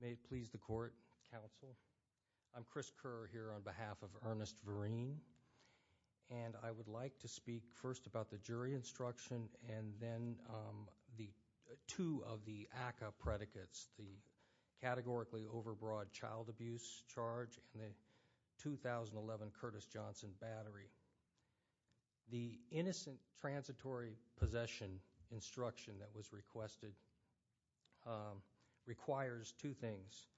May it please the court, counsel. I'm Chris Kerr here on behalf of Ernest Vereen, and I would like to speak first about the jury instruction and then the two of the ACCA predicates, the categorically overbroad child abuse charge and the 2011 Curtis Johnson battery. The innocent transitory possession instruction that was requested requires two things,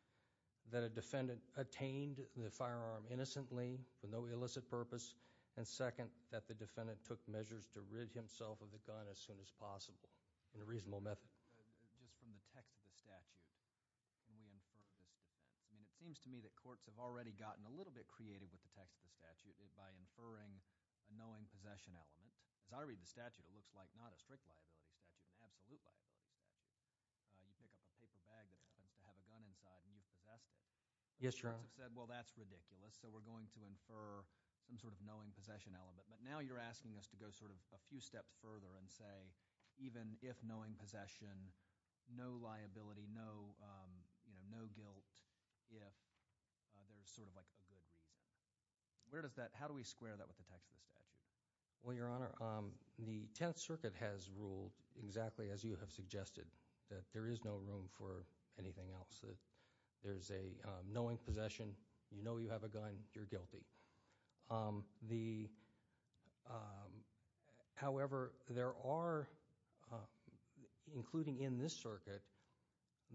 that a defendant attained the firearm innocently with no illicit purpose, and second, that the defendant took measures to rid himself of the gun as soon as possible in a reasonable method. I'm going to start with just from the text of the statute. It seems to me that courts have already gotten a little bit creative with the text of the statute by inferring a knowing possession element. As I read the statute, it looks like not a strict liability statute, an absolute liability statute. You pick up a paper bag that's supposed to have a gun inside, and you possess it. Yes, Your Honor. The courts have said, well, that's ridiculous, so we're going to infer some sort of knowing possession element. But now you're asking us to go sort of a few steps further and say, even if knowing possession, no liability, no guilt, if there's sort of like a good reason. Where does that – how do we square that with the text of the statute? Well, Your Honor, the Tenth Circuit has ruled exactly as you have suggested, that there is no room for anything else. There's a knowing possession. You know you have a gun. You're guilty. However, there are, including in this circuit,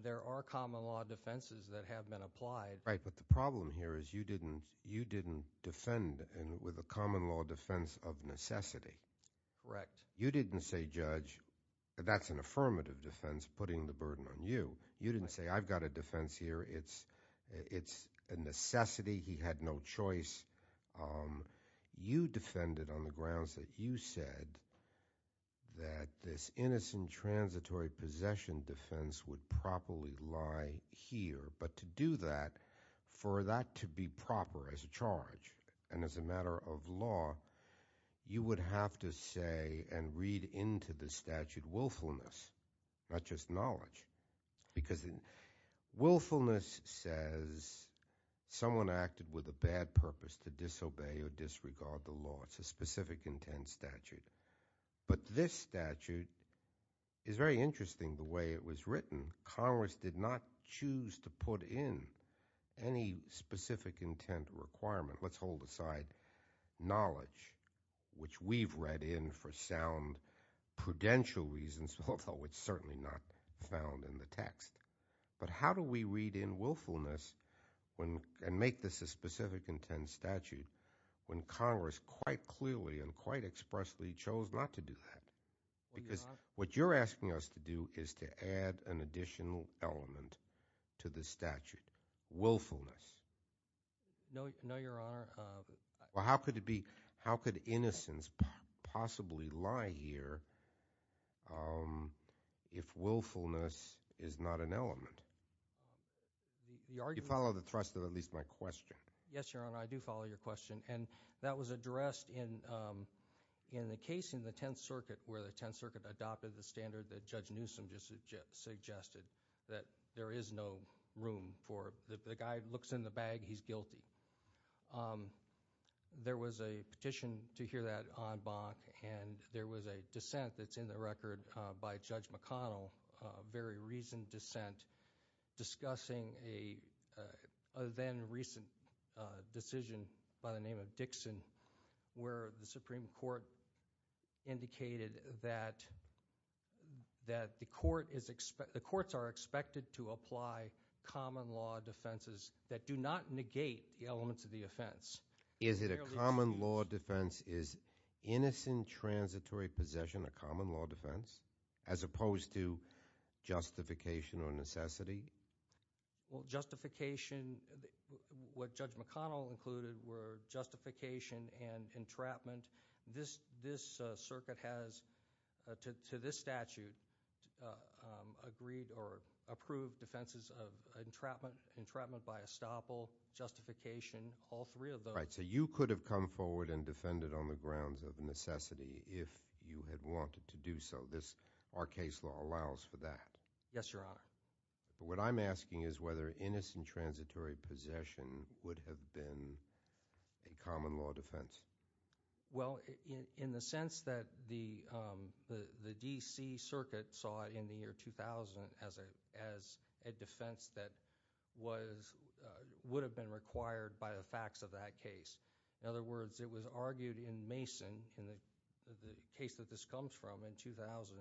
there are common law defenses that have been applied. Right, but the problem here is you didn't defend with a common law defense of necessity. Correct. You didn't say, Judge, that that's an affirmative defense putting the burden on you. You didn't say, I've got a defense here. It's a necessity. He had no choice. You defended on the grounds that you said that this innocent transitory possession defense would properly lie here. But to do that, for that to be proper as a charge and as a matter of law, you would have to say and read into the statute willfulness, not just knowledge. Because willfulness says someone acted with a bad purpose to disobey or disregard the law. It's a specific intent statute. But this statute is very interesting the way it was written. Congress did not choose to put in any specific intent requirement. Let's hold aside knowledge, which we've read in for sound prudential reasons, although it's certainly not found in the text. But how do we read in willfulness and make this a specific intent statute when Congress quite clearly and quite expressly chose not to do that? Because what you're asking us to do is to add an additional element to the statute, willfulness. No, Your Honor. Well, how could innocence possibly lie here if willfulness is not an element? Do you follow the thrust of at least my question? Yes, Your Honor, I do follow your question. And that was addressed in the case in the Tenth Circuit where the Tenth Circuit adopted the standard that Judge Newsom just suggested, that there is no room for the guy who looks in the bag, he's guilty. There was a petition to hear that en banc and there was a dissent that's in the record by Judge McConnell, a very recent dissent discussing a then recent decision by the name of Dixon, where the Supreme Court indicated that the courts are expected to apply common law defenses that do not negate the elements of the offense. Is it a common law defense? Is innocent transitory possession a common law defense? As opposed to justification or necessity? Well, justification, what Judge McConnell included were justification and entrapment. This circuit has, to this statute, approved defenses of entrapment by estoppel, justification. All three of those. Right, so you could have come forward and defended on the grounds of necessity if you had wanted to do so. Our case law allows for that. Yes, Your Honor. But what I'm asking is whether innocent transitory possession would have been a common law defense. Well, in the sense that the D.C. circuit saw it in the year 2000 as a defense that would have been required by the facts of that case. In other words, it was argued in Mason, in the case that this comes from in 2000,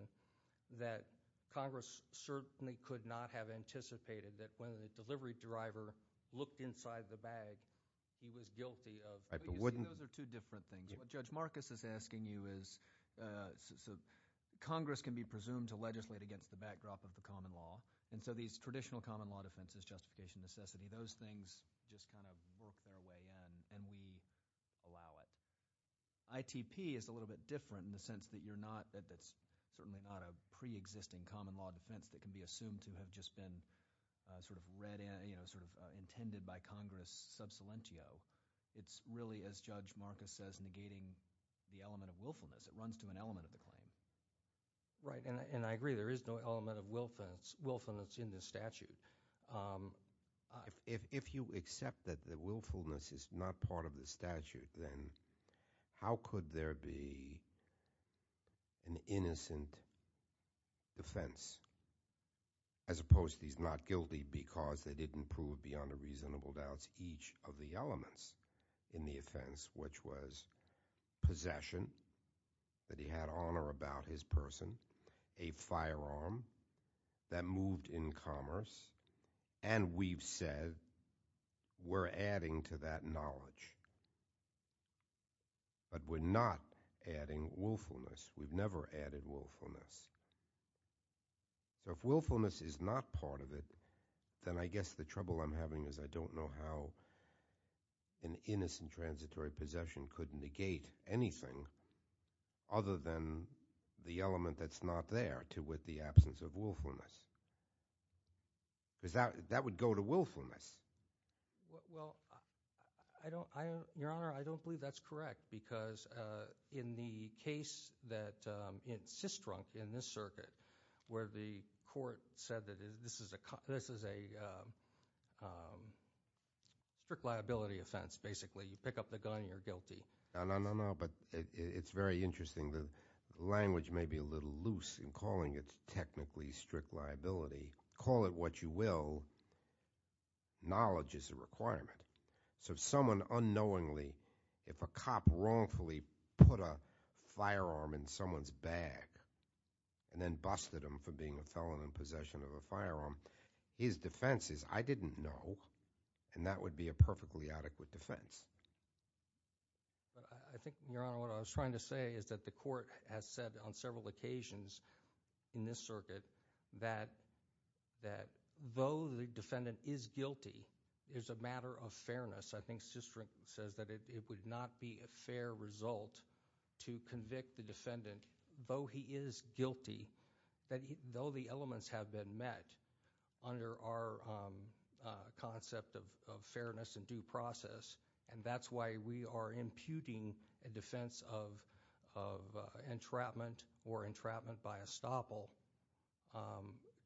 that Congress certainly could not have anticipated that when the delivery driver looked inside the bag, he was guilty of, you see, those are two different things. What Judge Marcus is asking you is, Congress can be presumed to legislate against the backdrop of the common law, and so these traditional common law defenses, justification, necessity, those things just kind of work their way in, and we allow it. ITP is a little bit different in the sense that you're not, that it's certainly not a pre-existing common law defense that can be assumed to have just been sort of intended by Congress sub silentio. It's really, as Judge Marcus says, negating the element of willfulness. It runs to an element of the claim. Right, and I agree. There is no element of willfulness in this statute. If you accept that the willfulness is not part of the statute, then how could there be an innocent defense as opposed to he's not guilty because they didn't prove beyond a reasonable doubt each of the elements in the offense, which was possession, that he had honor about his person, a firearm that moved in commerce, and we've said we're adding to that knowledge. But we're not adding willfulness. We've never added willfulness. So if willfulness is not part of it, then I guess the trouble I'm having is I don't know how an innocent transitory possession could negate anything other than the element that's not there with the absence of willfulness. Because that would go to willfulness. Well, Your Honor, I don't believe that's correct because in the case that it's just drunk in this circuit where the court said that this is a strict liability offense, basically. You pick up the gun and you're guilty. No, no, no, no, but it's very interesting. The language may be a little loose in calling it technically strict liability. Call it what you will. Knowledge is a requirement. So if someone unknowingly, if a cop wrongfully put a firearm in someone's bag and then busted him for being a felon in possession of a firearm, his defense is, I didn't know, and that would be a perfectly adequate defense. I think, Your Honor, what I was trying to say is that the court has said on several occasions in this circuit that though the defendant is guilty, it's a matter of fairness. I think Sistrin says that it would not be a fair result to convict the defendant, though he is guilty, though the elements have been met under our concept of fairness and due process, and that's why we are imputing a defense of entrapment or entrapment by estoppel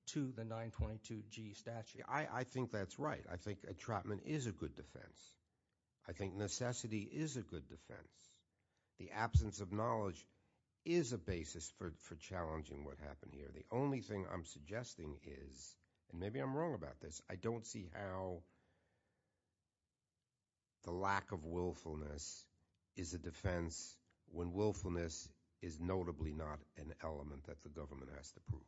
to the 922G statute. I think that's right. I think entrapment is a good defense. I think necessity is a good defense. The absence of knowledge is a basis for challenging what happened here. The only thing I'm suggesting is, and maybe I'm wrong about this, I don't see how the lack of willfulness is a defense when willfulness is notably not an element that the government has to prove.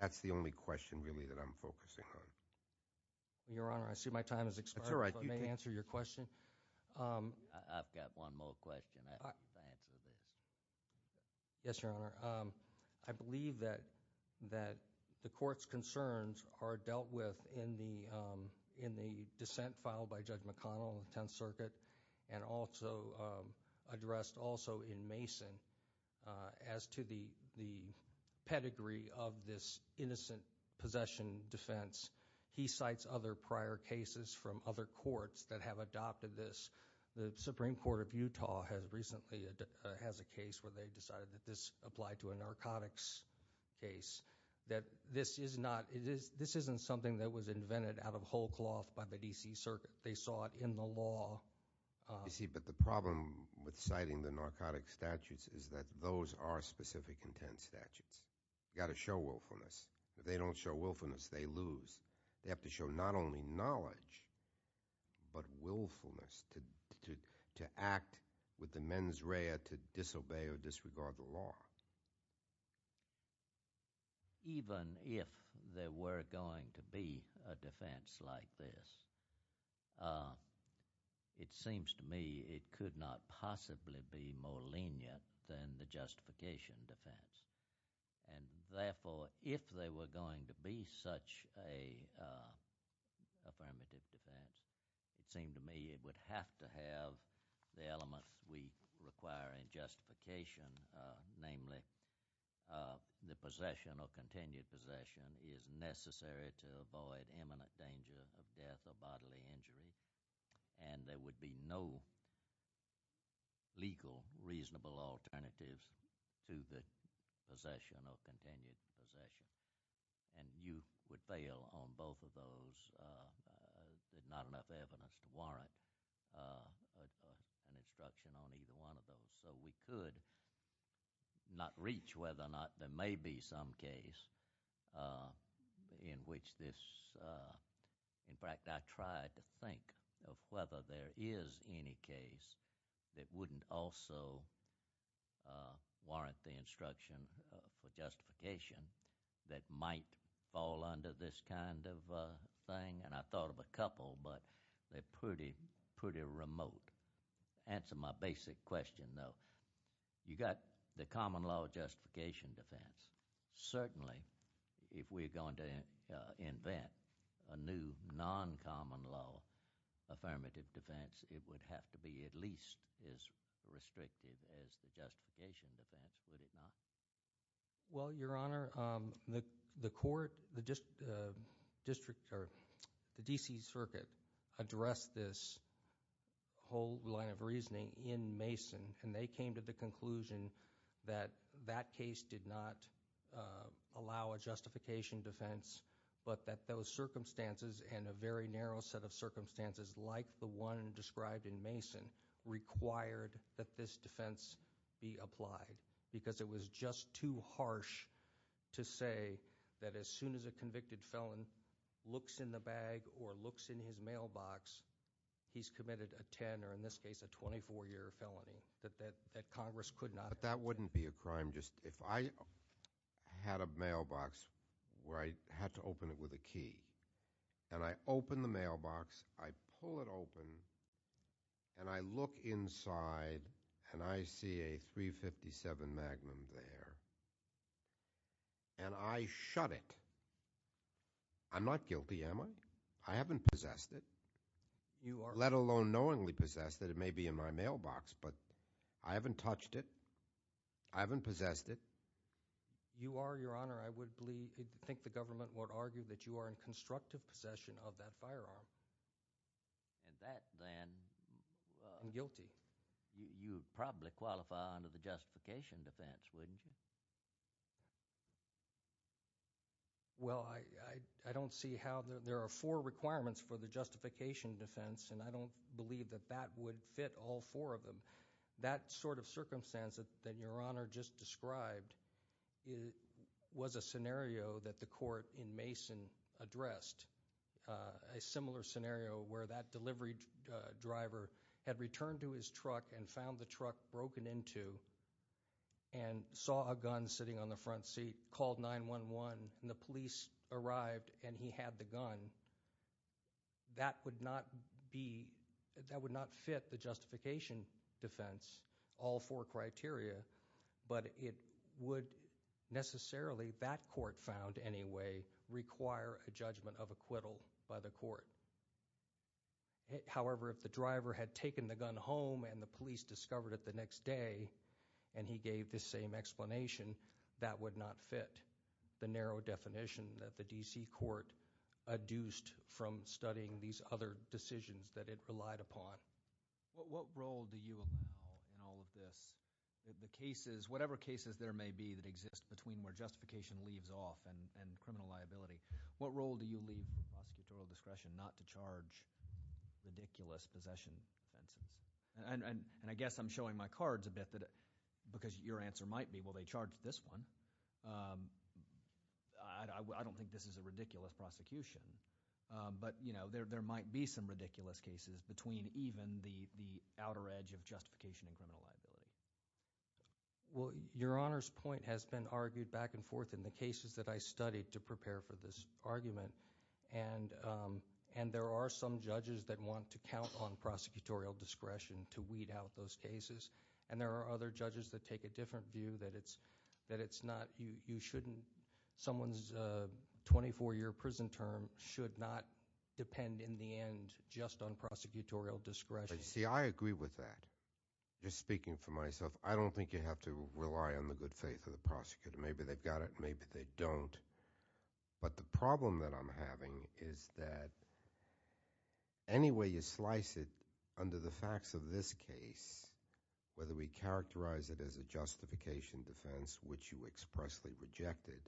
That's the only question really that I'm focusing on. Your Honor, I see my time has expired. That's all right. Let me answer your question. I've got one more question. Yes, Your Honor. I believe that the court's concerns are dealt with in the dissent filed by Judge McConnell in the Tenth Circuit and also addressed also in Mason as to the pedigree of this innocent possession defense. He cites other prior cases from other courts that have adopted this. The Supreme Court of Utah recently has a case where they decided that this applied to a narcotics case, that this isn't something that was invented out of whole cloth by the D.C. Circuit. They saw it in the law. You see, but the problem with citing the narcotics statutes is that those are specific intent statutes. You've got to show willfulness. If they don't show willfulness, they lose. They have to show not only knowledge but willfulness to act with the mens rea to disobey or disregard the law. Even if there were going to be a defense like this, it seems to me it could not possibly be more lenient than the justification defense. Therefore, if there were going to be such an affirmative defense, it seems to me it would have to have the elements we require in justification, namely the possession or continued possession is necessary to avoid imminent danger of death or bodily injury. There would be no legal, reasonable alternatives to the possession or continued possession. You would fail on both of those. There's not enough evidence to warrant an instruction on either one of those. So we could not reach whether or not there may be some case in which this— in fact, I tried to think of whether there is any case that wouldn't also warrant the instruction for justification that might fall under this kind of thing, and I thought of a couple, but they're pretty remote. To answer my basic question, though, you've got the common law justification defense. Certainly, if we're going to invent a new non-common law affirmative defense, it would have to be at least as restrictive as the justification defense, would it not? Well, Your Honor, the court, the district, or the D.C. Circuit addressed this whole line of reasoning in Mason, and they came to the conclusion that that case did not allow a justification defense, but that those circumstances and a very narrow set of circumstances like the one described in Mason required that this defense be applied because it was just too harsh to say that as soon as a convicted felon looks in the bag or looks in his mailbox, he's committed a 10 or, in this case, a 24-year felony, that Congress could not— But that wouldn't be a crime just if I had a mailbox where I had to open it with a key, and I open the mailbox, I pull it open, and I look inside, and I see a 357 Magnum there, and I shut it. I'm not guilty, am I? I haven't possessed it, let alone knowingly possessed it. It may be in my mailbox, but I haven't touched it. I haven't possessed it. You are, Your Honor, I would think the government would argue that you are in constructive possession of that firearm. And that, then, I'm guilty. You would probably qualify under the justification defense, wouldn't you? Well, I don't see how—there are four requirements for the justification defense, and I don't believe that that would fit all four of them. That sort of circumstance that Your Honor just described was a scenario that the court in Mason addressed, a similar scenario where that delivery driver had returned to his truck and found the truck broken into and saw a gun sitting on the front seat, called 911, and the police arrived, and he had the gun. That would not fit the justification defense, all four criteria, but it would necessarily, that court found anyway, require a judgment of acquittal by the court. However, if the driver had taken the gun home and the police discovered it the next day, and he gave the same explanation, that would not fit the narrow definition that the D.C. court adduced from studying these other decisions that it relied upon. What role do you allow in all of this? The cases, whatever cases there may be that exist between where justification leaves off and criminal liability, what role do you leave the prosecutor of discretion not to charge ridiculous possession offenses? And I guess I'm showing my cards a bit because your answer might be, well, they charged this one. I don't think this is a ridiculous prosecution, but there might be some ridiculous cases between even the outer edge of justification and criminal liability. Well, your Honor's point has been argued back and forth in the cases that I studied to prepare for this argument, and there are some judges that want to count on prosecutorial discretion to weed out those cases, and there are other judges that take a different view, that it's not – you shouldn't – someone's 24-year prison term should not depend in the end just on prosecutorial discretion. See, I agree with that. Just speaking for myself, I don't think you have to rely on the good faith of the prosecutor. Maybe they've got it, maybe they don't. But the problem that I'm having is that any way you slice it under the facts of this case, whether we characterize it as a justification defense, which you expressly rejected,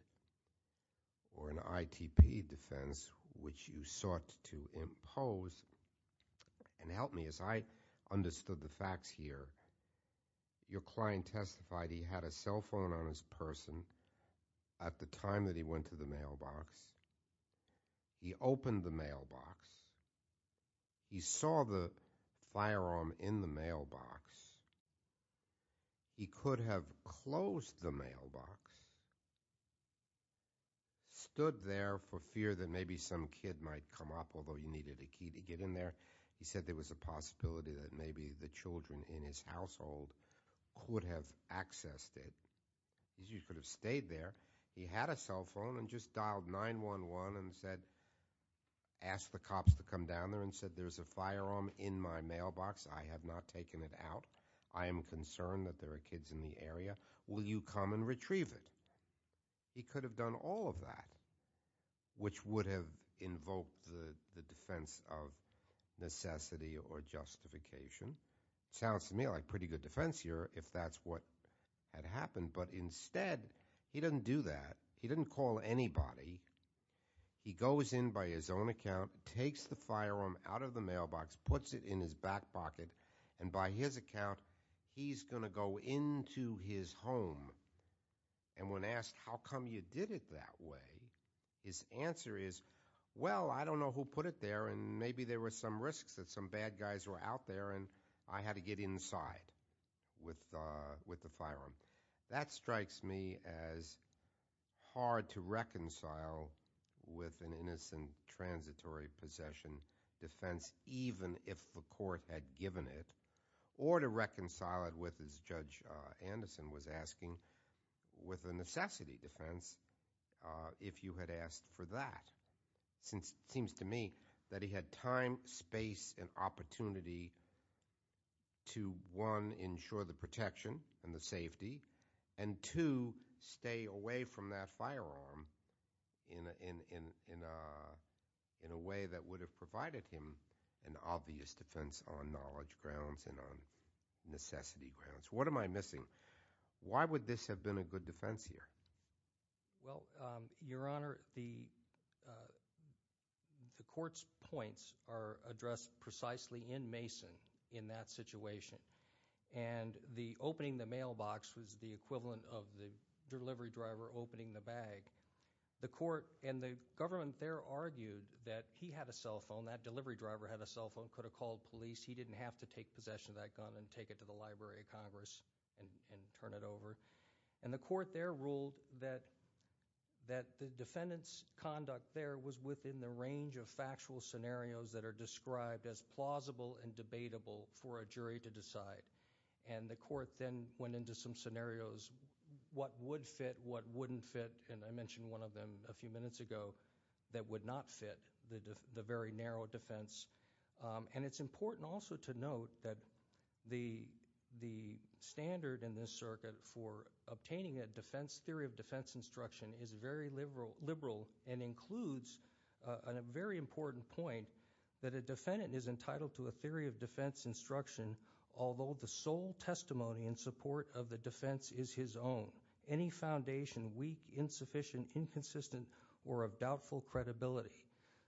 or an ITP defense, which you sought to impose – and help me as I understood the facts here. Your client testified he had a cell phone on his person at the time that he went to the mailbox. He opened the mailbox. He saw the firearm in the mailbox. He could have closed the mailbox, stood there for fear that maybe some kid might come up, although he needed a key to get in there. But he said there was a possibility that maybe the children in his household could have accessed it. He could have stayed there. He had a cell phone and just dialed 911 and said – asked the cops to come down there and said, there's a firearm in my mailbox. I have not taken it out. I am concerned that there are kids in the area. Will you come and retrieve it? He could have done all of that, which would have invoked the defense of necessity or justification. Sounds to me like pretty good defense here if that's what had happened. But instead, he didn't do that. He didn't call anybody. He goes in by his own account, takes the firearm out of the mailbox, puts it in his back pocket, and by his account, he's going to go into his home. And when asked how come you did it that way, his answer is, well, I don't know who put it there, and maybe there were some risks that some bad guys were out there and I had to get inside with the firearm. That strikes me as hard to reconcile with an innocent transitory possession defense, even if the court had given it, or to reconcile it with, as Judge Anderson was asking, with a necessity defense if you had asked for that. Seems to me that he had time, space, and opportunity to, one, ensure the protection and the safety, and two, stay away from that firearm in a way that would have provided him an obvious defense on knowledge grounds and on necessity grounds. What am I missing? Why would this have been a good defense here? Well, Your Honor, the court's points are addressed precisely in Mason in that situation. And the opening the mailbox was the equivalent of the delivery driver opening the bag. The court and the government there argued that he had a cell phone, that delivery driver had a cell phone, could have called police, he didn't have to take possession of that gun and take it to the Library of Congress and turn it over. And the court there ruled that the defendant's conduct there was within the range of factual scenarios that are described as plausible and debatable for a jury to decide. And the court then went into some scenarios, what would fit, what wouldn't fit, and I mentioned one of them a few minutes ago, that would not fit the very narrow defense. And it's important also to note that the standard in this circuit for obtaining a theory of defense instruction is very liberal and includes a very important point that a defendant is entitled to a theory of defense instruction although the sole testimony in support of the defense is his own. Any foundation, weak, insufficient, inconsistent, or of doubtful credibility.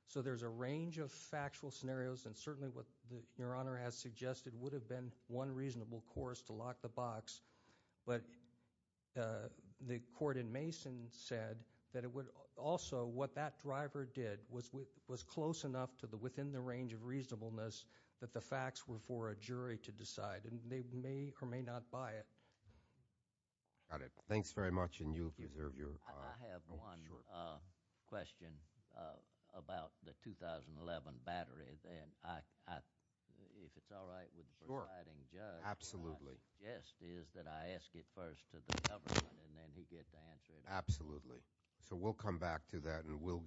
So there's a range of factual scenarios and certainly what Your Honor has suggested would have been one reasonable course to lock the box. But the court in Mason said that it would also, what that driver did, was close enough to within the range of reasonableness that the facts were for a jury to decide. And they may or may not buy it. Got it. Thanks very much and you've reserved your time. I have one question about the 2011 battery. If it's all right with the presiding judge. Absolutely. Yes, is that I ask it first to the government and then he gets to answer it. Absolutely. So we'll come back to that and we'll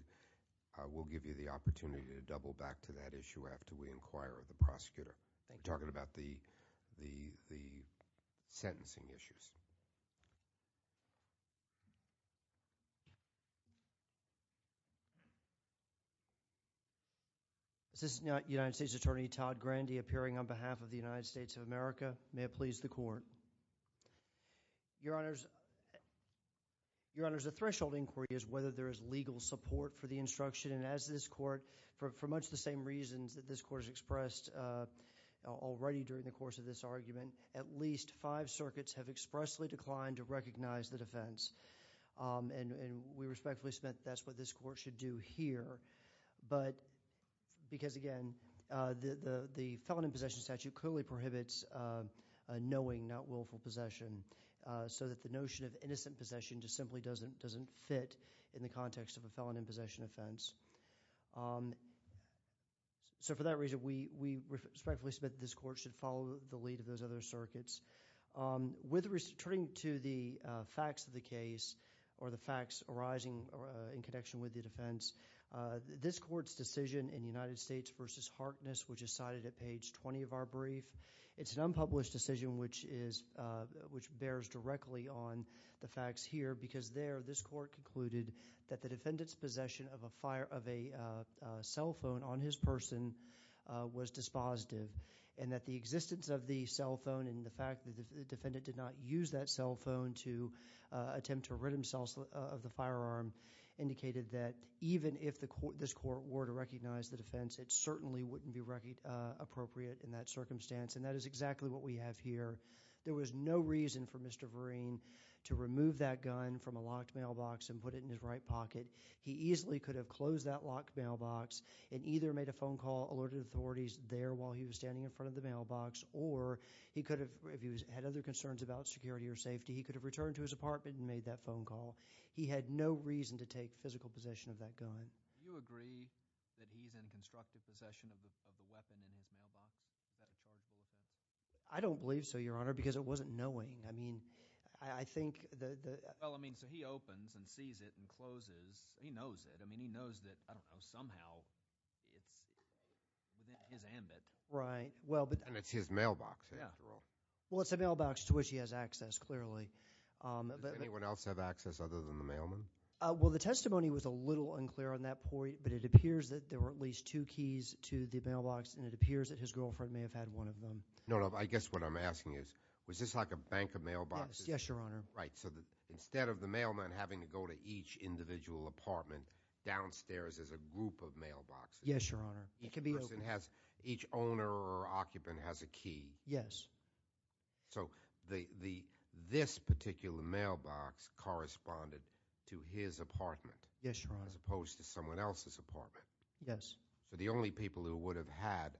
give you the opportunity to double back to that issue after we inquire with the prosecutor. Thank you. We're talking about the sentencing issues. Is this United States Attorney Todd Grandy appearing on behalf of the United States of America? May it please the court. Your Honors, Your Honors, the threshold inquiry is whether there is legal support for the instruction. And as this court, for much the same reasons that this court has expressed already during the course of this argument, at least five circuits have expressly declined to recognize the defense. And we respectfully submit that's what this court should do here. But because again, the felon in possession statute clearly prohibits knowing not willful possession. So that the notion of innocent possession just simply doesn't fit in the context of a felon in possession offense. So for that reason, we respectfully submit this court should follow the lead of those other circuits. With respect to the facts of the case or the facts arising in connection with the defense, this court's decision in United States v. Harkness, which is cited at page 20 of our brief, it's an unpublished decision which bears directly on the facts here. Because there, this court concluded that the defendant's possession of a cell phone on his person was dispositive. And that the existence of the cell phone and the fact that the defendant did not use that cell phone to attempt to rid himself of the firearm indicated that even if this court were to recognize the defense, it certainly wouldn't be appropriate in that circumstance. And that is exactly what we have here. There was no reason for Mr. Vereen to remove that gun from a locked mailbox and put it in his right pocket. He easily could have closed that locked mailbox and either made a phone call, alerted authorities there while he was standing in front of the mailbox, or he could have, if he had other concerns about security or safety, he could have returned to his apartment and made that phone call. He had no reason to take physical possession of that gun. Do you agree that he's in constructive possession of the weapon in his mailbox? I don't believe so, Your Honor, because it wasn't knowing. I mean, I think that the – Well, I mean, so he opens and sees it and closes. He knows it. I mean, he knows that, I don't know, somehow it's within his ambit. Right. And it's his mailbox, after all. Well, it's a mailbox to which he has access, clearly. Does anyone else have access other than the mailman? Well, the testimony was a little unclear on that point, but it appears that there were at least two keys to the mailbox, and it appears that his girlfriend may have had one of them. No, no, I guess what I'm asking is, was this like a bank of mailboxes? Yes, Your Honor. Right, so instead of the mailman having to go to each individual apartment, downstairs is a group of mailboxes. Yes, Your Honor. Each person has – each owner or occupant has a key. Yes. So this particular mailbox corresponded to his apartment. Yes, Your Honor. As opposed to someone else's apartment. Yes. So the only people who would have had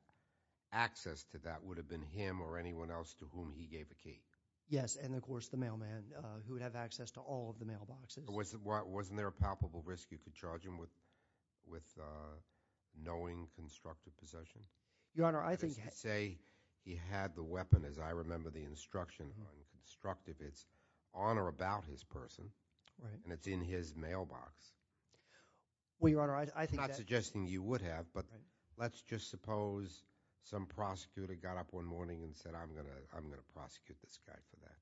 access to that would have been him or anyone else to whom he gave a key. Yes, and, of course, the mailman, who would have access to all of the mailboxes. Wasn't there a palpable risk you could charge him with knowing constructive possession? Your Honor, I think – Because you say he had the weapon, as I remember the instruction on constructive. It's on or about his person, and it's in his mailbox. Well, Your Honor, I think that – I'm not suggesting you would have, but let's just suppose some prosecutor got up one morning and said, I'm going to prosecute this guy for that.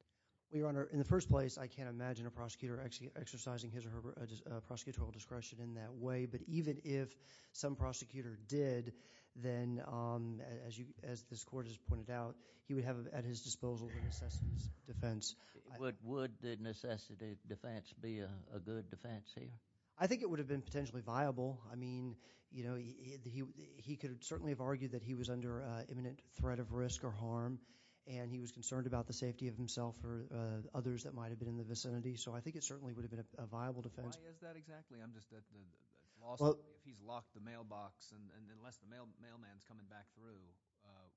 Well, Your Honor, in the first place, I can't imagine a prosecutor exercising his or her prosecutorial discretion in that way, but even if some prosecutor did, then, as this Court has pointed out, he would have at his disposal the necessity defense. Would the necessity defense be a good defense here? I think it would have been potentially viable. I mean, you know, he could certainly have argued that he was under imminent threat of risk or harm, and he was concerned about the safety of himself or others that might have been in the vicinity, so I think it certainly would have been a viable defense. Why is that exactly? I'm just – if he's locked the mailbox, and unless the mailman's coming back through,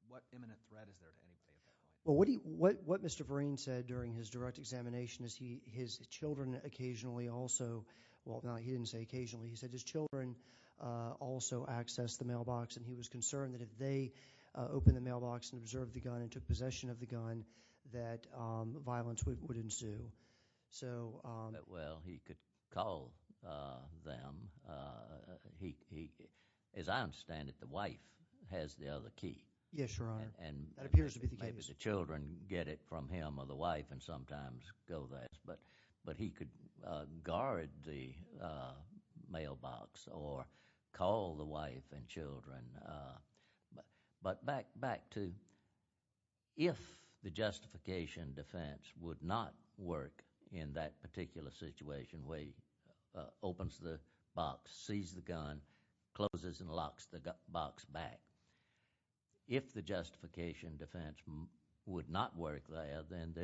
what imminent threat is there to anybody at that point? Well, what Mr. Vereen said during his direct examination is his children occasionally also – well, no, he didn't say occasionally. He said his children also accessed the mailbox, and he was concerned that if they opened the mailbox and observed the gun and took possession of the gun, that violence would ensue. So – Well, he could call them. He – as I understand it, the wife has the other key. Yes, Your Honor. That appears to be the case. Maybe the children get it from him or the wife and sometimes go there, but he could guard the mailbox or call the wife and children. But back to if the justification defense would not work in that particular situation where he opens the box, sees the gun, closes and locks the box back, if the justification defense would not work there, then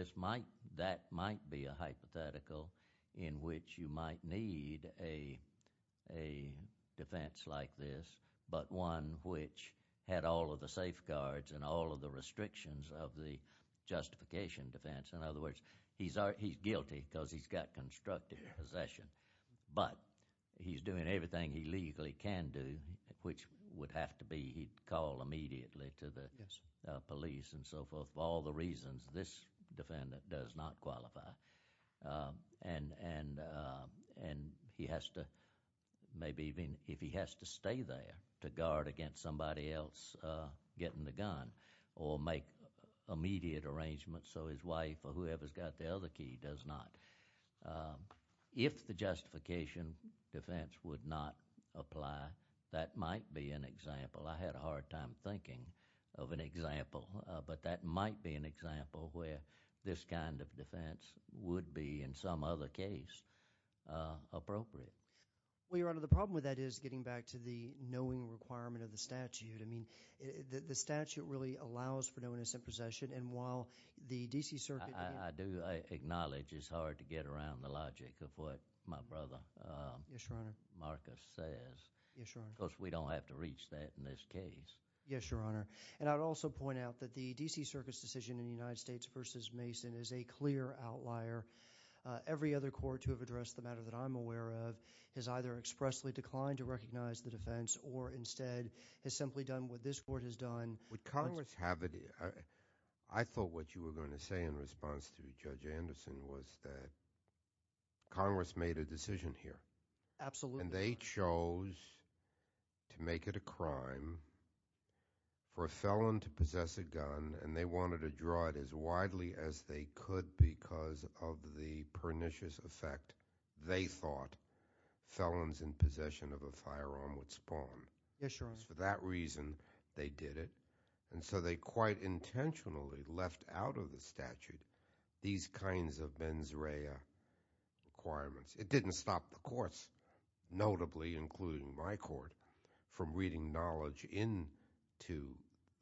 that might be a hypothetical in which you might need a defense like this, but one which had all of the safeguards and all of the restrictions of the justification defense. In other words, he's guilty because he's got constructive possession, but he's doing everything he legally can do, which would have to be he'd call immediately to the police and so forth. Of all the reasons, this defendant does not qualify and he has to, maybe even if he has to stay there to guard against somebody else getting the gun or make immediate arrangements so his wife or whoever's got the other key does not. If the justification defense would not apply, that might be an example. I had a hard time thinking of an example, but that might be an example where this kind of defense would be in some other case appropriate. Well, Your Honor, the problem with that is getting back to the knowing requirement of the statute. I mean, the statute really allows for no innocent possession, and while the D.C. Circuit— I do acknowledge it's hard to get around the logic of what my brother Marcus says. Yes, Your Honor. Because we don't have to reach that in this case. Yes, Your Honor. And I'd also point out that the D.C. Circuit's decision in the United States versus Mason is a clear outlier. Every other court to have addressed the matter that I'm aware of has either expressly declined to recognize the defense or instead has simply done what this court has done. Would Congress have it—I thought what you were going to say in response to Judge Anderson was that Congress made a decision here. Absolutely, Your Honor. And they chose to make it a crime for a felon to possess a gun, and they wanted to draw it as widely as they could because of the pernicious effect they thought felons in possession of a firearm would spawn. Yes, Your Honor. For that reason, they did it. And so they quite intentionally left out of the statute these kinds of mens rea requirements. It didn't stop the courts, notably including my court, from reading knowledge into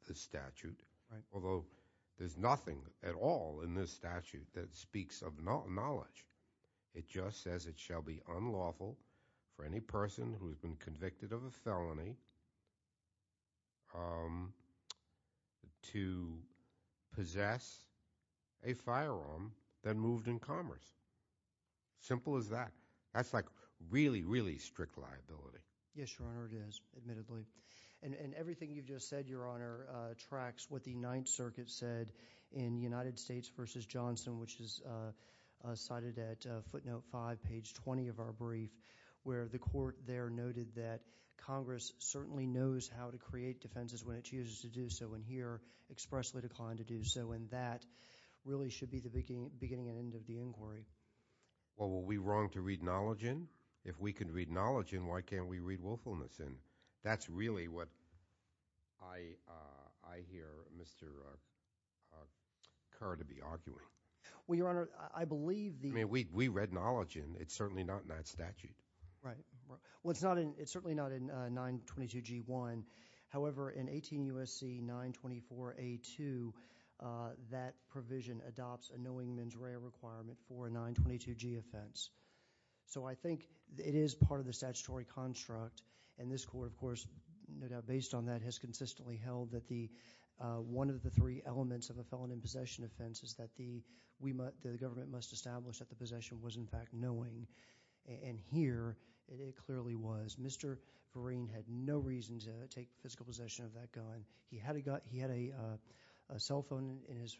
the statute, although there's nothing at all in this statute that speaks of knowledge. It just says it shall be unlawful for any person who has been convicted of a felony to possess a firearm that moved in commerce. Simple as that. That's like really, really strict liability. Yes, Your Honor, it is, admittedly. And everything you've just said, Your Honor, tracks what the Ninth Circuit said in United States v. Johnson, which is cited at footnote 5, page 20 of our brief, where the court there noted that Congress certainly knows how to create defenses when it chooses to do so, and here expressly declined to do so. And that really should be the beginning and end of the inquiry. Well, were we wrong to read knowledge in? If we can read knowledge in, why can't we read willfulness in? That's really what I hear Mr. Kerr to be arguing. Well, Your Honor, I believe the- I mean, we read knowledge in. It's certainly not in that statute. Right. Well, it's certainly not in 922G1. However, in 18 U.S.C. 924A2, that provision adopts a knowing men's rare requirement for a 922G offense. So I think it is part of the statutory construct, and this court, of course, no doubt based on that, has consistently held that one of the three elements of a felon in possession offense is that the government must establish that the possession was, in fact, knowing. And here it clearly was. Mr. Green had no reason to take physical possession of that gun. He had a cell phone in his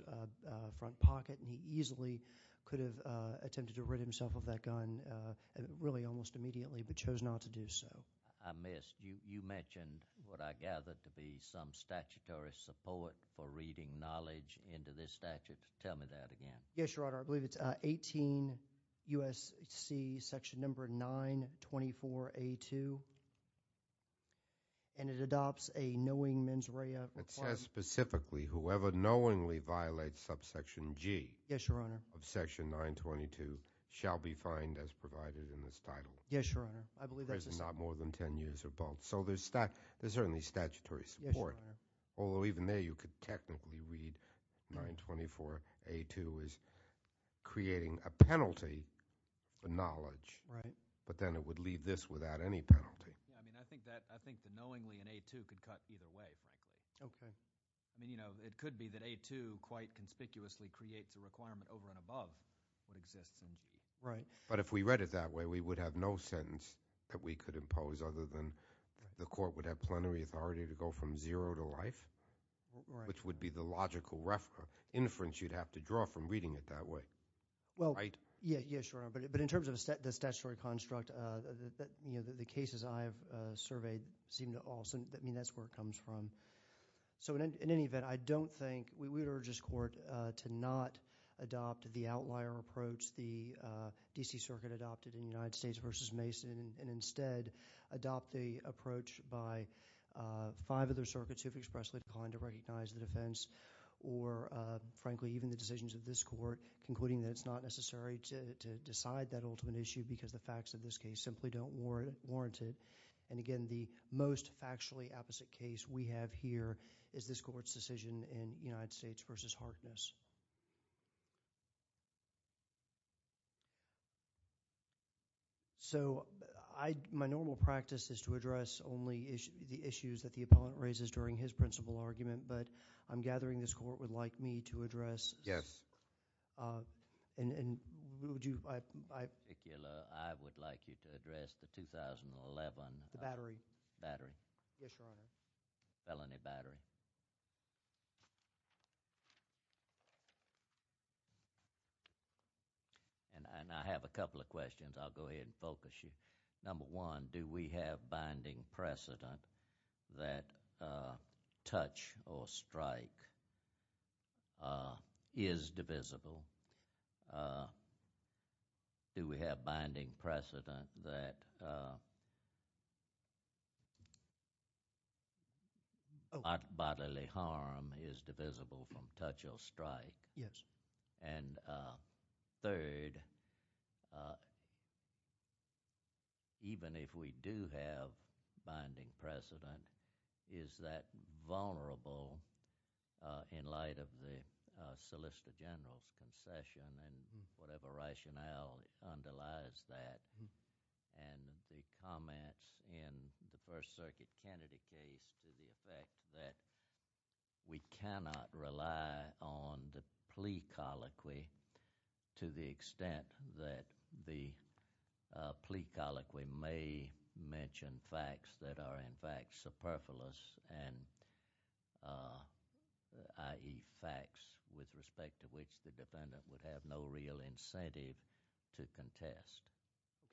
front pocket, and he easily could have attempted to rid himself of that gun really almost immediately, but chose not to do so. I missed. You mentioned what I gather to be some statutory support for reading knowledge into this statute. Tell me that again. Yes, Your Honor. I believe it's 18 U.S.C. section number 924A2, and it adopts a knowing men's rare requirement. It says specifically whoever knowingly violates subsection G of section 922 shall be fined as provided in this title. Yes, Your Honor. Not more than 10 years or both. So there's certainly statutory support. Yes, Your Honor. Although even there you could technically read 924A2 as creating a penalty for knowledge. Right. But then it would leave this without any penalty. I mean, I think the knowingly in A2 could cut either way, frankly. Okay. I mean, you know, it could be that A2 quite conspicuously creates a requirement over and above what exists in G. Right. But if we read it that way, we would have no sentence that we could impose other than the court would have plenary authority to go from zero to life. Right. Which would be the logical reference you'd have to draw from reading it that way. Right? Well, yes, Your Honor. But in terms of the statutory construct, you know, the cases I've surveyed seem to all – I mean, that's where it comes from. So in any event, I don't think – we would urge this court to not adopt the outlier approach the D.C. Circuit adopted in the United States versus Mason and instead adopt the approach by five other circuits who have expressly declined to recognize the defense or frankly even the decisions of this court concluding that it's not necessary to decide that ultimate issue because the facts of this case simply don't warrant it. And again, the most factually opposite case we have here is this court's decision in United States versus Harkness. So my normal practice is to address only the issues that the appellant raises during his principal argument, but I'm gathering this court would like me to address – Yes. And would you – I would like you to address the 2011 – The battery. Battery. Yes, Your Honor. Felony battery. Okay. And I have a couple of questions. I'll go ahead and focus you. Number one, do we have binding precedent that touch or strike is divisible? Do we have binding precedent that bodily harm is divisible from touch or strike? Yes. And third, even if we do have binding precedent, is that vulnerable in light of the Solicitor General's concession and whatever rationale underlies that and the comments in the First Circuit Kennedy case to the effect that we cannot rely on the plea colloquy to the extent that the plea colloquy may mention facts that are in fact superfluous and, i.e., facts with respect to which the defendant would have no real incentive to contest?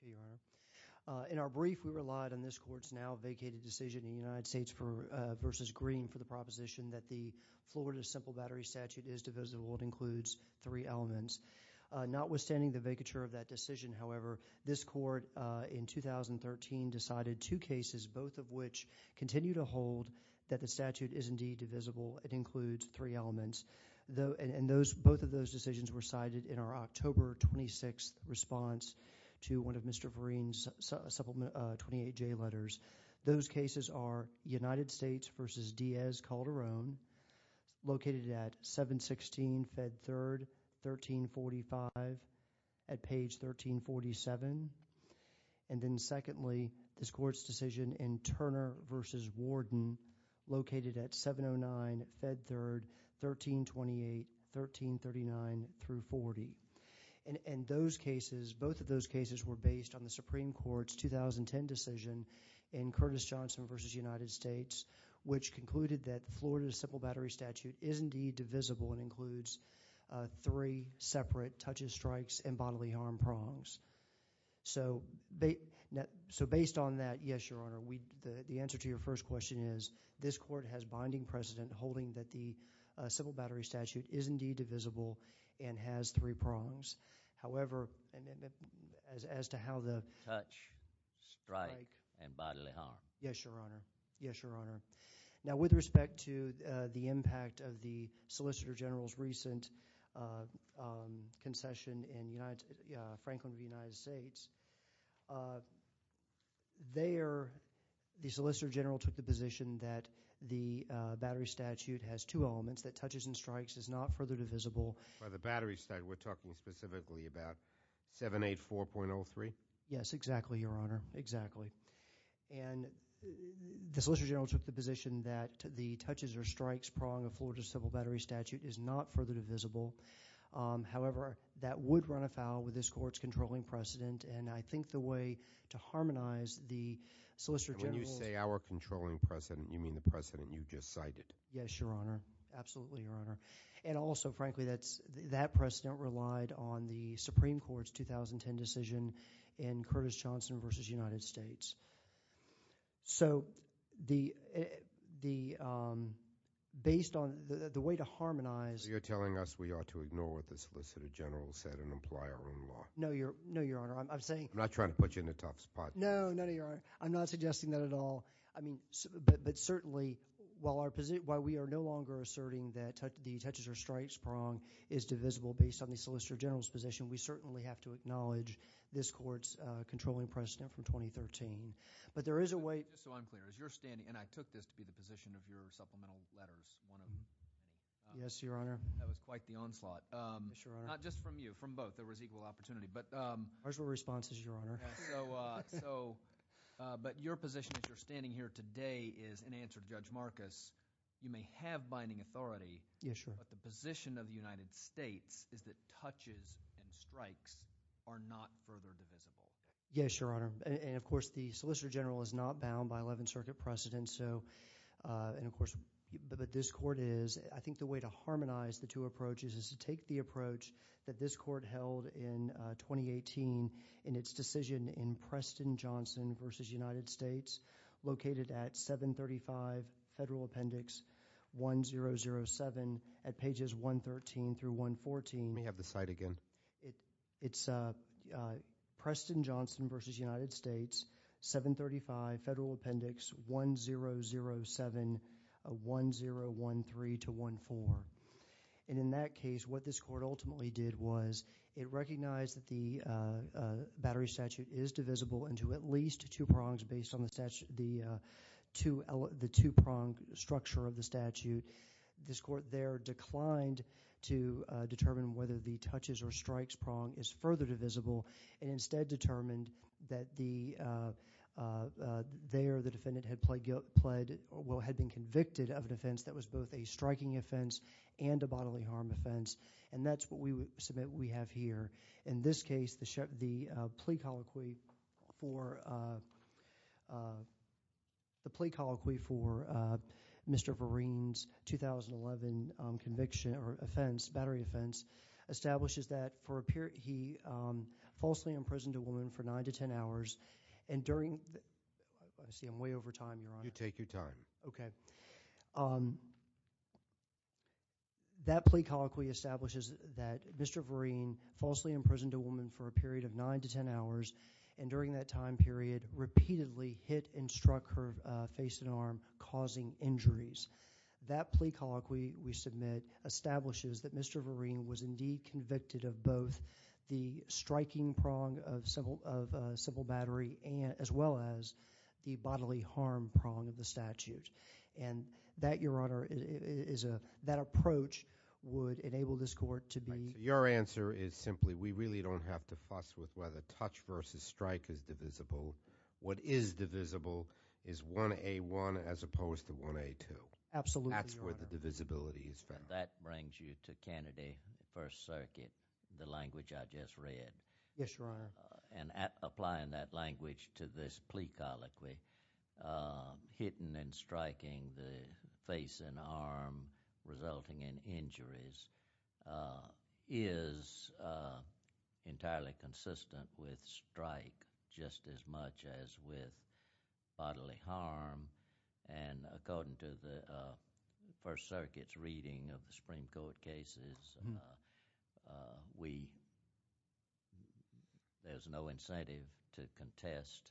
Okay, Your Honor. In our brief, we relied on this court's now vacated decision in the United States versus Green for the proposition that the Florida simple battery statute is divisible and includes three elements. Notwithstanding the vacature of that decision, however, this court in 2013 decided two cases, both of which continue to hold that the statute is indeed divisible. It includes three elements, and both of those decisions were cited in our October 26th response to one of Mr. Vereen's supplement 28J letters. Those cases are United States versus Diaz Calderon, located at 716 Fed 3rd, 1345, at page 1347. And then secondly, this court's decision in Turner versus Warden, located at 709 Fed 3rd, 1328, 1339 through 40. And those cases, both of those cases were based on the Supreme Court's 2010 decision in Curtis Johnson versus United States, which concluded that Florida's simple battery statute is indeed divisible and includes three separate touches, strikes, and bodily harm prongs. So based on that, yes, Your Honor, the answer to your first question is this court has binding precedent holding that the simple battery statute is indeed divisible and has three prongs. However, as to how the— Touch, strike, and bodily harm. Yes, Your Honor. Yes, Your Honor. Now, with respect to the impact of the Solicitor General's recent concession in Franklin v. United States, there, the Solicitor General took the position that the battery statute has two elements, that touches and strikes is not further divisible. By the battery statute, we're talking specifically about 784.03? Yes, exactly, Your Honor, exactly. And the Solicitor General took the position that the touches or strikes prong of Florida's simple battery statute is not further divisible. However, that would run afoul with this court's controlling precedent, and I think the way to harmonize the Solicitor General's— And when you say our controlling precedent, you mean the precedent you just cited? Yes, Your Honor. Absolutely, Your Honor. And also, frankly, that precedent relied on the Supreme Court's 2010 decision in Curtis Johnson v. United States. So the—based on—the way to harmonize— So you're telling us we ought to ignore what the Solicitor General said and apply our own law? No, Your Honor. I'm saying— I'm not trying to put you in a tough spot. No, no, no, Your Honor. I'm not suggesting that at all. I mean—but certainly, while we are no longer asserting that the touches or strikes prong is divisible based on the Solicitor General's position, we certainly have to acknowledge this court's controlling precedent from 2013. But there is a way— Just so I'm clear, as you're standing—and I took this to be the position of your supplemental letters, one of— Yes, Your Honor. That was quite the onslaught. Yes, Your Honor. Not just from you. From both. There was equal opportunity. But— Our short response is, Your Honor. So—but your position as you're standing here today is, in answer to Judge Marcus, you may have binding authority. Yes, Your Honor. But the position of the United States is that touches and strikes are not further divisible. Yes, Your Honor. And, of course, the Solicitor General is not bound by Eleventh Circuit precedent. And so—and, of course—but this court is. I think the way to harmonize the two approaches is to take the approach that this court held in 2018 in its decision in Preston-Johnson v. United States, located at 735 Federal Appendix 1007 at pages 113 through 114. May I have the site again? It's Preston-Johnson v. United States, 735 Federal Appendix 1007, 1013 to 14. And in that case, what this court ultimately did was it recognized that the battery statute is divisible into at least two prongs based on the statute—the two—the two-prong structure of the statute. This court there declined to determine whether the touches or strikes prong is further divisible and instead determined that the—there the defendant had pled—well, had been convicted of an offense that was both a striking offense and a bodily harm offense. And that's what we submit we have here. In this case, the plea colloquy for—the plea colloquy for Mr. Vereen's 2011 conviction or offense, battery offense, establishes that for a period—he falsely imprisoned a woman for 9 to 10 hours and during—I see I'm way over time, Your Honor. You take your time. Okay. That plea colloquy establishes that Mr. Vereen falsely imprisoned a woman for a period of 9 to 10 hours and during that time period repeatedly hit and struck her face and arm causing injuries. That plea colloquy we submit establishes that Mr. Vereen was indeed convicted of both the striking prong of civil—of civil battery and—as well as the bodily harm prong of the statute. And that, Your Honor, is a—that approach would enable this court to be— Absolutely, Your Honor. That's where the divisibility is found. That brings you to Kennedy, First Circuit, the language I just read. Yes, Your Honor. And applying that language to this plea colloquy, hitting and striking the face and arm resulting in injuries is entirely consistent with strike just as much as with bodily harm. And according to the First Circuit's reading of the Supreme Court cases, we—there's no incentive to contest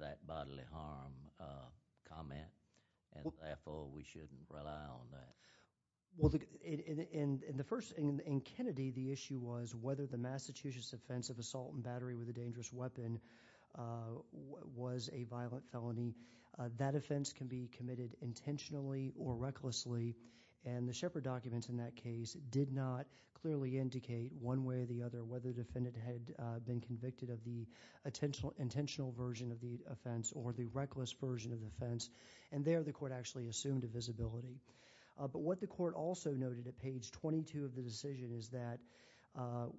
that bodily harm comment. And therefore, we shouldn't rely on that. Well, in the first—in Kennedy, the issue was whether the Massachusetts offense of assault and battery with a dangerous weapon was a violent felony. That offense can be committed intentionally or recklessly. And the Shepard documents in that case did not clearly indicate one way or the other whether the defendant had been convicted of the intentional version of the offense or the reckless version of the offense. And there, the court actually assumed a visibility. But what the court also noted at page 22 of the decision is that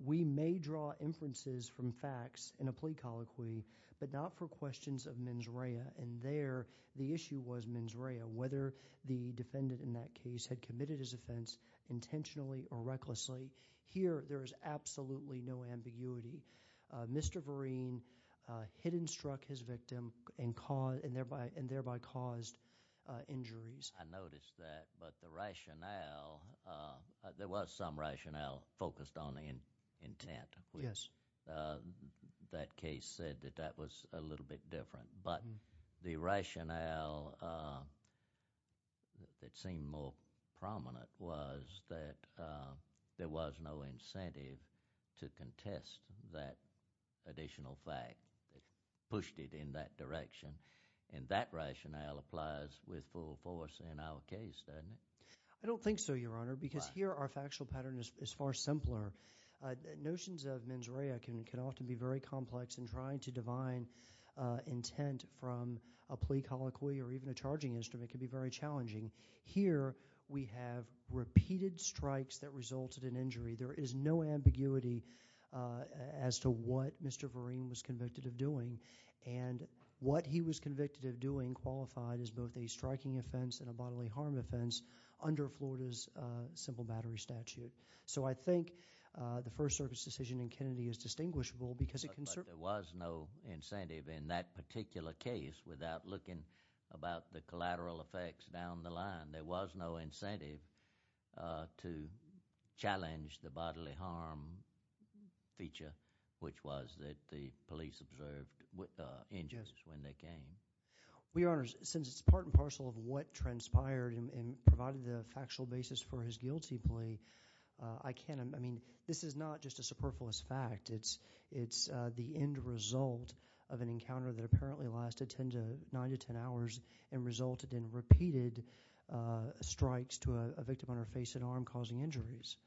we may draw inferences from facts in a plea colloquy, but not for questions of mens rea. And there, the issue was mens rea, whether the defendant in that case had committed his offense intentionally or recklessly. Here, there is absolutely no ambiguity. Mr. Vereen hit and struck his victim and thereby caused injuries. I noticed that. But the rationale—there was some rationale focused on intent. Yes. That case said that that was a little bit different. But the rationale that seemed more prominent was that there was no incentive to contest that additional fact that pushed it in that direction. And that rationale applies with full force in our case, doesn't it? I don't think so, Your Honor, because here our factual pattern is far simpler. Notions of mens rea can often be very complex, and trying to divine intent from a plea colloquy or even a charging instrument can be very challenging. Here, we have repeated strikes that resulted in injury. There is no ambiguity as to what Mr. Vereen was convicted of doing and what he was convicted of doing qualified as both a striking offense and a bodily harm offense under Florida's simple battery statute. So I think the first service decision in Kennedy is distinguishable because it— But there was no incentive in that particular case without looking about the collateral effects down the line. There was no incentive to challenge the bodily harm feature, which was that the police observed injuries when they came. Well, Your Honors, since it's part and parcel of what transpired and provided the factual basis for his guilty plea, I can't— I mean, this is not just a superfluous fact. It's the end result of an encounter that apparently lasted 10 to—9 to 10 hours and resulted in repeated strikes to a victim on her face and arm causing injuries.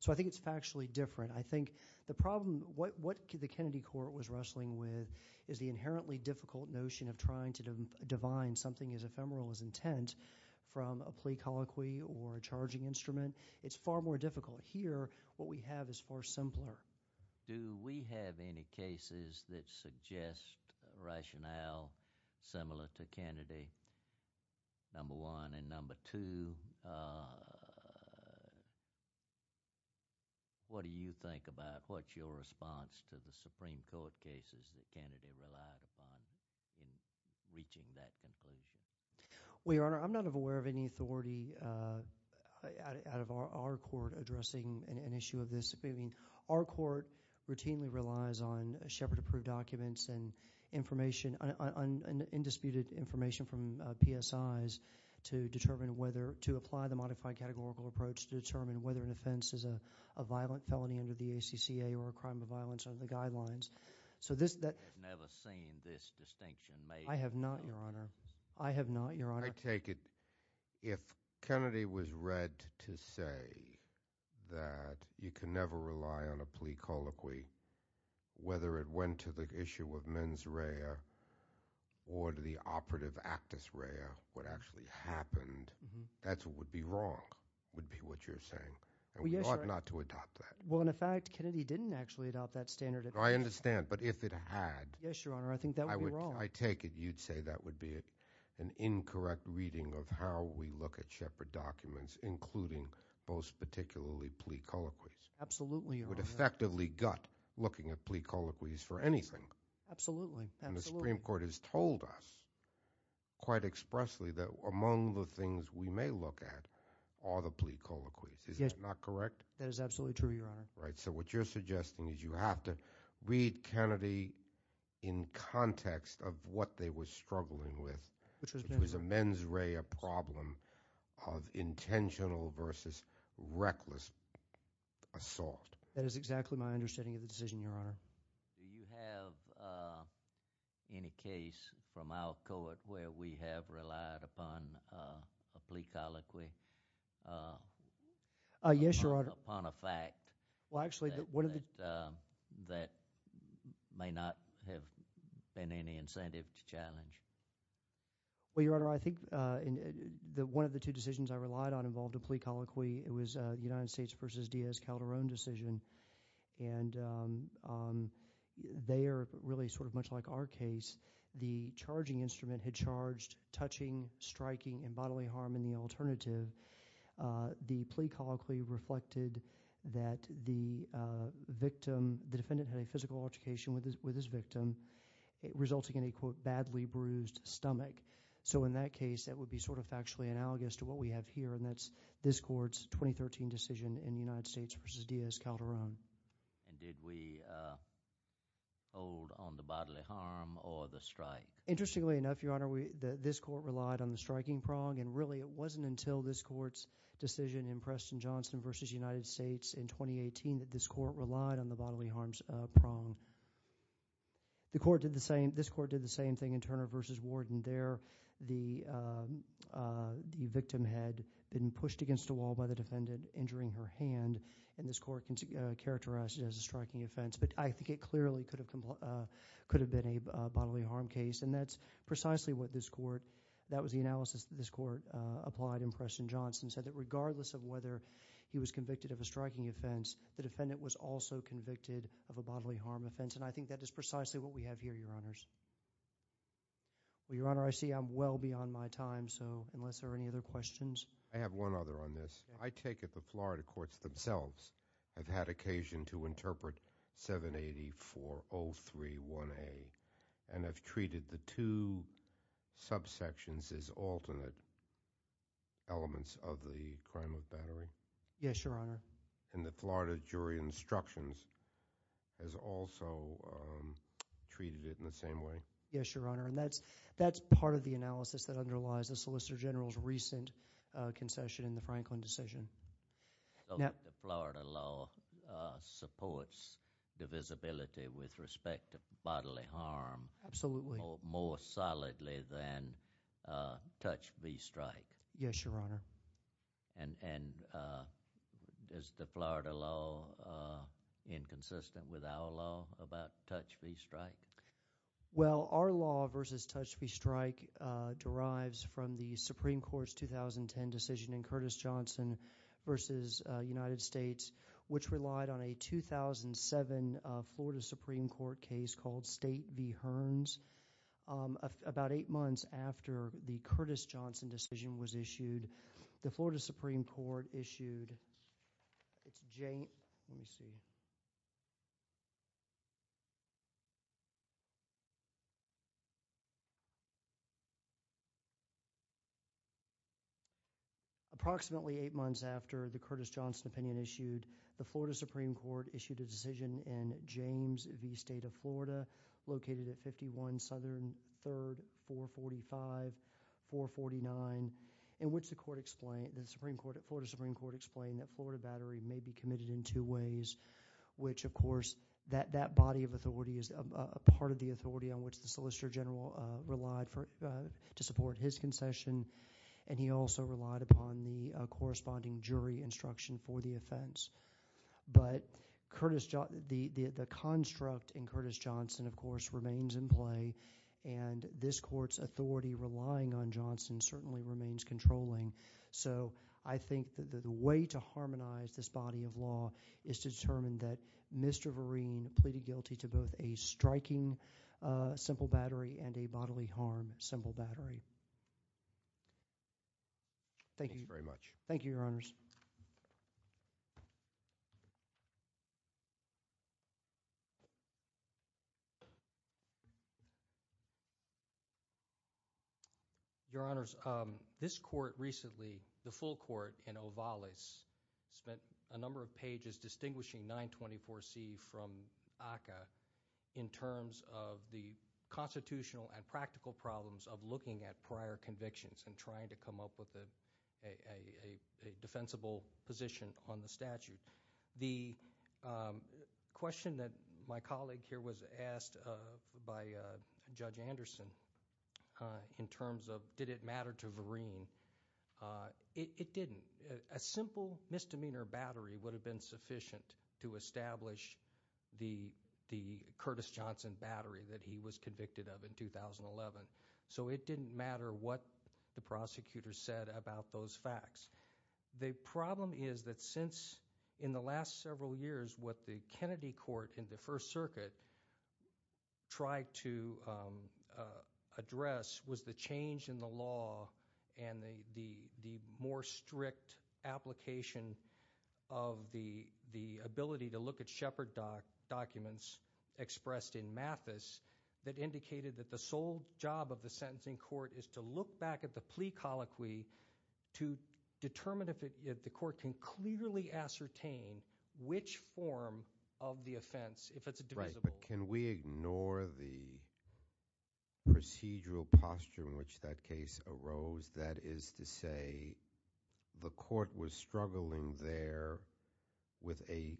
So I think it's factually different. I think the problem—what the Kennedy court was wrestling with is the inherently difficult notion of trying to divine something as ephemeral as intent from a plea colloquy or a charging instrument. It's far more difficult. Here, what we have is far simpler. Do we have any cases that suggest rationale similar to Kennedy, number one? And number two, what do you think about what's your response to the Supreme Court cases that Kennedy relied upon in reaching that conclusion? Well, Your Honor, I'm not aware of any authority out of our court addressing an issue of this. I mean, our court routinely relies on Shepard-approved documents and information, undisputed information from PSIs to determine whether— to apply the modified categorical approach to determine whether an offense is a violent felony under the ACCA or a crime of violence under the guidelines. So this— I have never seen this distinction made. I have not, Your Honor. I have not, Your Honor. I take it if Kennedy was read to say that you can never rely on a plea colloquy, whether it went to the issue of mens rea or to the operative actus rea, what actually happened, that's what would be wrong, would be what you're saying. Well, yes, Your Honor. And we ought not to adopt that. Well, in fact, Kennedy didn't actually adopt that standard. I understand. But if it had— Yes, Your Honor, I think that would be wrong. I take it you'd say that would be an incorrect reading of how we look at Shepard documents, including those particularly plea colloquies. Absolutely, Your Honor. It would effectively gut looking at plea colloquies for anything. Absolutely. Absolutely. And the Supreme Court has told us quite expressly that among the things we may look at are the plea colloquies. Yes. Is that not correct? That is absolutely true, Your Honor. So what you're suggesting is you have to read Kennedy in context of what they were struggling with, which was a mens rea problem of intentional versus reckless assault. That is exactly my understanding of the decision, Your Honor. Do you have any case from our court where we have relied upon a plea colloquy? Yes, Your Honor. Upon a fact that may not have been any incentive to challenge? Well, Your Honor, I think one of the two decisions I relied on involved a plea colloquy. It was a United States versus Diaz-Calderon decision. And they are really sort of much like our case. The charging instrument had charged touching, striking, and bodily harm in the alternative. The plea colloquy reflected that the victim, the defendant had a physical altercation with his victim, resulting in a, quote, badly bruised stomach. So in that case, that would be sort of factually analogous to what we have here, and that's this court's 2013 decision in the United States versus Diaz-Calderon. And did we hold on the bodily harm or the strike? Interestingly enough, Your Honor, this court relied on the striking prong. And really, it wasn't until this court's decision in Preston-Johnson versus United States in 2018 that this court relied on the bodily harm prong. This court did the same thing in Turner versus Warden there. The victim had been pushed against a wall by the defendant, injuring her hand, and this court characterized it as a striking offense. But I think it clearly could have been a bodily harm case. And that's precisely what this court, that was the analysis that this court applied in Preston-Johnson, said that regardless of whether he was convicted of a striking offense, the defendant was also convicted of a bodily harm offense. And I think that is precisely what we have here, Your Honors. Well, Your Honor, I see I'm well beyond my time, so unless there are any other questions. I have one other on this. I take it the Florida courts themselves have had occasion to interpret 780-403-1A and have treated the two subsections as alternate elements of the crime of battery? Yes, Your Honor. And the Florida jury instructions has also treated it in the same way? Yes, Your Honor. And that's part of the analysis that underlies the Solicitor General's recent concession in the Franklin decision. So the Florida law supports divisibility with respect to bodily harm? Absolutely. More solidly than touch v. strike? Yes, Your Honor. And is the Florida law inconsistent with our law about touch v. strike? Well, our law versus touch v. strike derives from the Supreme Court's 2010 decision in Curtis Johnson v. United States, which relied on a 2007 Florida Supreme Court case called State v. Hearns. About eight months after the Curtis Johnson decision was issued, the Florida Supreme Court issued its Jane—let me see. Approximately eight months after the Curtis Johnson opinion issued, the Florida Supreme Court issued a decision in James v. State of Florida, located at 51 Southern 3rd, 445, 449, in which the Florida Supreme Court explained that Florida battery may be committed in two ways, which, of course, that body of authority is a part of the authority on which the Solicitor General relied to support his concession, and he also relied upon the corresponding jury instruction for the offense. But the construct in Curtis Johnson, of course, remains in play, and this court's authority relying on Johnson certainly remains controlling. So I think that the way to harmonize this body of law is to determine that Mr. Vereen pleaded guilty to both a striking simple battery and a bodily harm simple battery. Thank you. Thank you very much. Thank you, Your Honors. Your Honors, this court recently, the full court in Ovalis, spent a number of pages distinguishing 924C from ACCA in terms of the constitutional and practical problems of looking at prior convictions and trying to come up with a defensible position on the statute. The question that my colleague here was asked by Judge Anderson in terms of did it matter to Vereen, it didn't. A simple misdemeanor battery would have been sufficient to establish the Curtis Johnson battery that he was convicted of in 2011. So it didn't matter what the prosecutor said about those facts. The problem is that since in the last several years what the Kennedy court in the First Circuit tried to address was the change in the law and the more strict application of the ability to look at Shepard documents expressed in Mathis that indicated that the sole job of the sentencing court is to look back at the plea colloquy to determine if the court can clearly ascertain which form of the offense, if it's divisible. Right, but can we ignore the procedural posture in which that case arose? That is to say the court was struggling there with a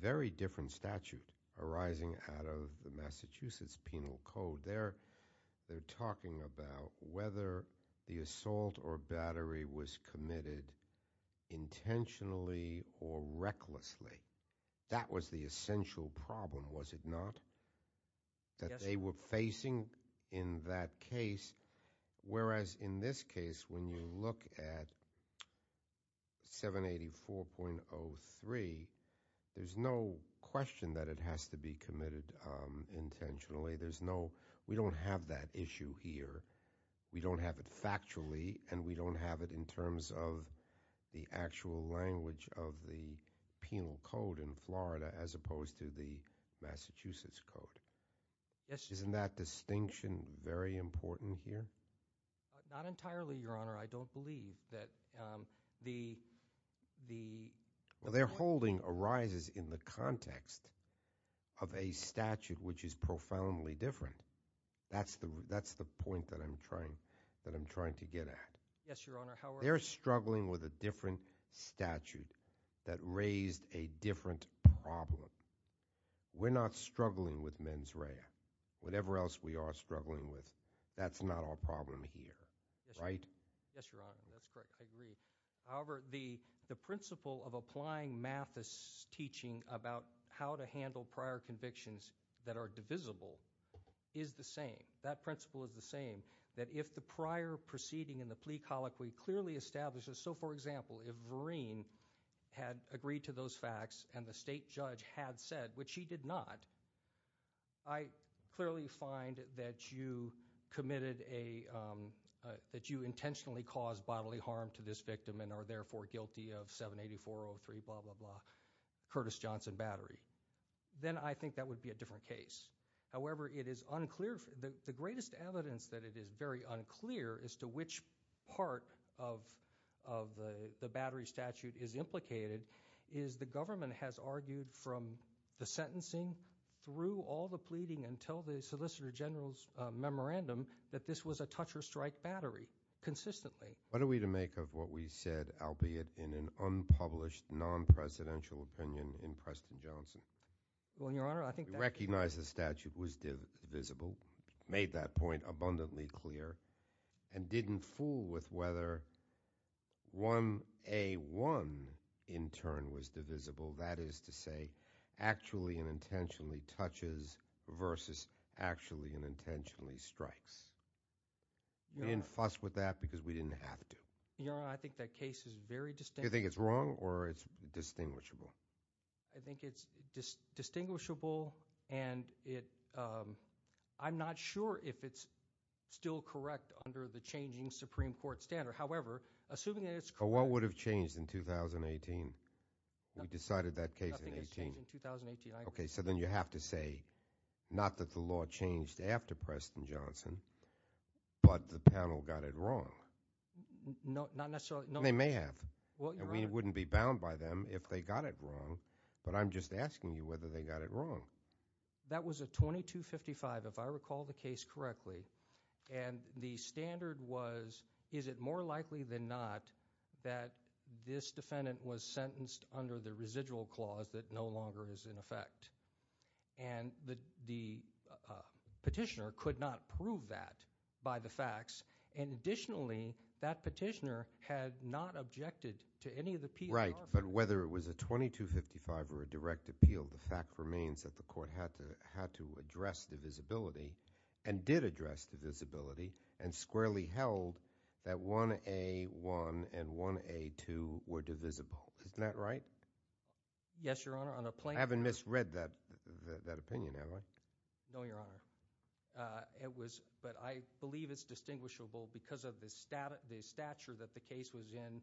very different statute arising out of the Massachusetts Penal Code. They're talking about whether the assault or battery was committed intentionally or recklessly. That was the essential problem, was it not? Yes. That they were facing in that case, whereas in this case when you look at 784.03, there's no question that it has to be committed intentionally. We don't have that issue here. We don't have it factually and we don't have it in terms of the actual language of the Penal Code in Florida as opposed to the Massachusetts Code. Yes. Isn't that distinction very important here? Not entirely, Your Honor. I don't believe that the- Well, their holding arises in the context of a statute which is profoundly different. That's the point that I'm trying to get at. Yes, Your Honor. They're struggling with a different statute that raised a different problem. We're not struggling with mens rea. Whatever else we are struggling with, that's not our problem here, right? Yes, Your Honor. That's correct. I agree. However, the principle of applying Mathis' teaching about how to handle prior convictions that are divisible is the same. That principle is the same, that if the prior proceeding in the plea colloquy clearly establishes- So, for example, if Vereen had agreed to those facts and the state judge had said, which he did not, I clearly find that you committed a- that you intentionally caused bodily harm to this victim and are therefore guilty of 784.03 blah, blah, blah, Curtis Johnson Battery. Then I think that would be a different case. However, it is unclear- the greatest evidence that it is very unclear as to which part of the battery statute is implicated is the government has argued from the sentencing through all the pleading until the Solicitor General's memorandum that this was a touch-or-strike battery consistently. What are we to make of what we said, albeit in an unpublished, non-presidential opinion in Preston Johnson? Well, Your Honor, I think- The battery statute was divisible, made that point abundantly clear, and didn't fool with whether 1A1 in turn was divisible. That is to say, actually and intentionally touches versus actually and intentionally strikes. We didn't fuss with that because we didn't have to. Your Honor, I think that case is very distinguishable. Do you think it's wrong or it's distinguishable? I think it's distinguishable, and I'm not sure if it's still correct under the changing Supreme Court standard. However, assuming that it's correct- What would have changed in 2018? We decided that case in 2018. Nothing has changed in 2018, I agree. Okay, so then you have to say not that the law changed after Preston Johnson, but the panel got it wrong. Not necessarily- They may have. It wouldn't be bound by them if they got it wrong, but I'm just asking you whether they got it wrong. That was a 2255, if I recall the case correctly, and the standard was, is it more likely than not that this defendant was sentenced under the residual clause that no longer is in effect? And the petitioner could not prove that by the facts, and additionally, that petitioner had not objected to any of the- Right, but whether it was a 2255 or a direct appeal, the fact remains that the court had to address divisibility, and did address divisibility, and squarely held that 1A1 and 1A2 were divisible. Isn't that right? I haven't misread that opinion, have I? No, Your Honor. It was, but I believe it's distinguishable because of the stature that the case was in-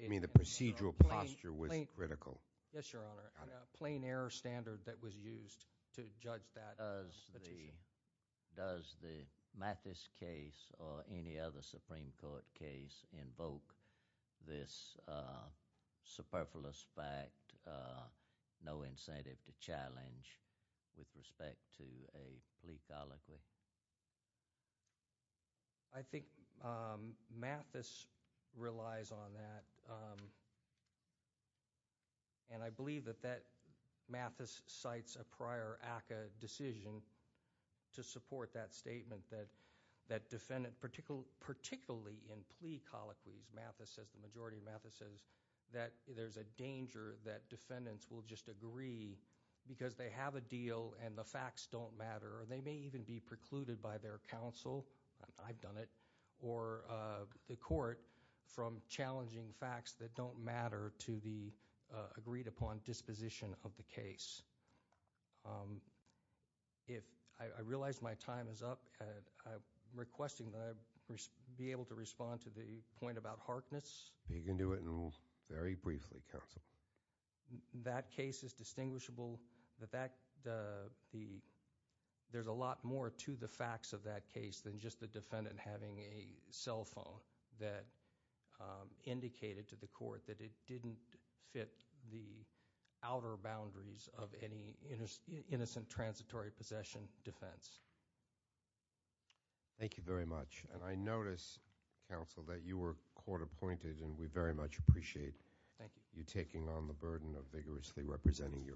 You mean the procedural posture was critical? Yes, Your Honor. A plain error standard that was used to judge that petition. Does the Mathis case or any other Supreme Court case invoke this superfluous fact, no incentive to challenge with respect to a plea colloquy? I think Mathis relies on that, and I believe that Mathis cites a prior ACCA decision to support that statement, that defendant, particularly in plea colloquies, Mathis says, the majority of Mathis says, that there's a danger that defendants will just agree because they have a deal and the facts don't matter, and they may even be precluded by their counsel, I've done it, or the court from challenging facts that don't matter to the agreed-upon disposition of the case. I realize my time is up, and I'm requesting that I be able to respond to the point about Harkness. You can do it very briefly, counsel. That case is distinguishable. There's a lot more to the facts of that case than just the defendant having a cell phone that indicated to the court that it didn't fit the outer boundaries of any innocent transitory possession defense. Thank you very much, and I notice, counsel, that you were court-appointed, and we very much appreciate you taking on the burden of vigorously representing Europe.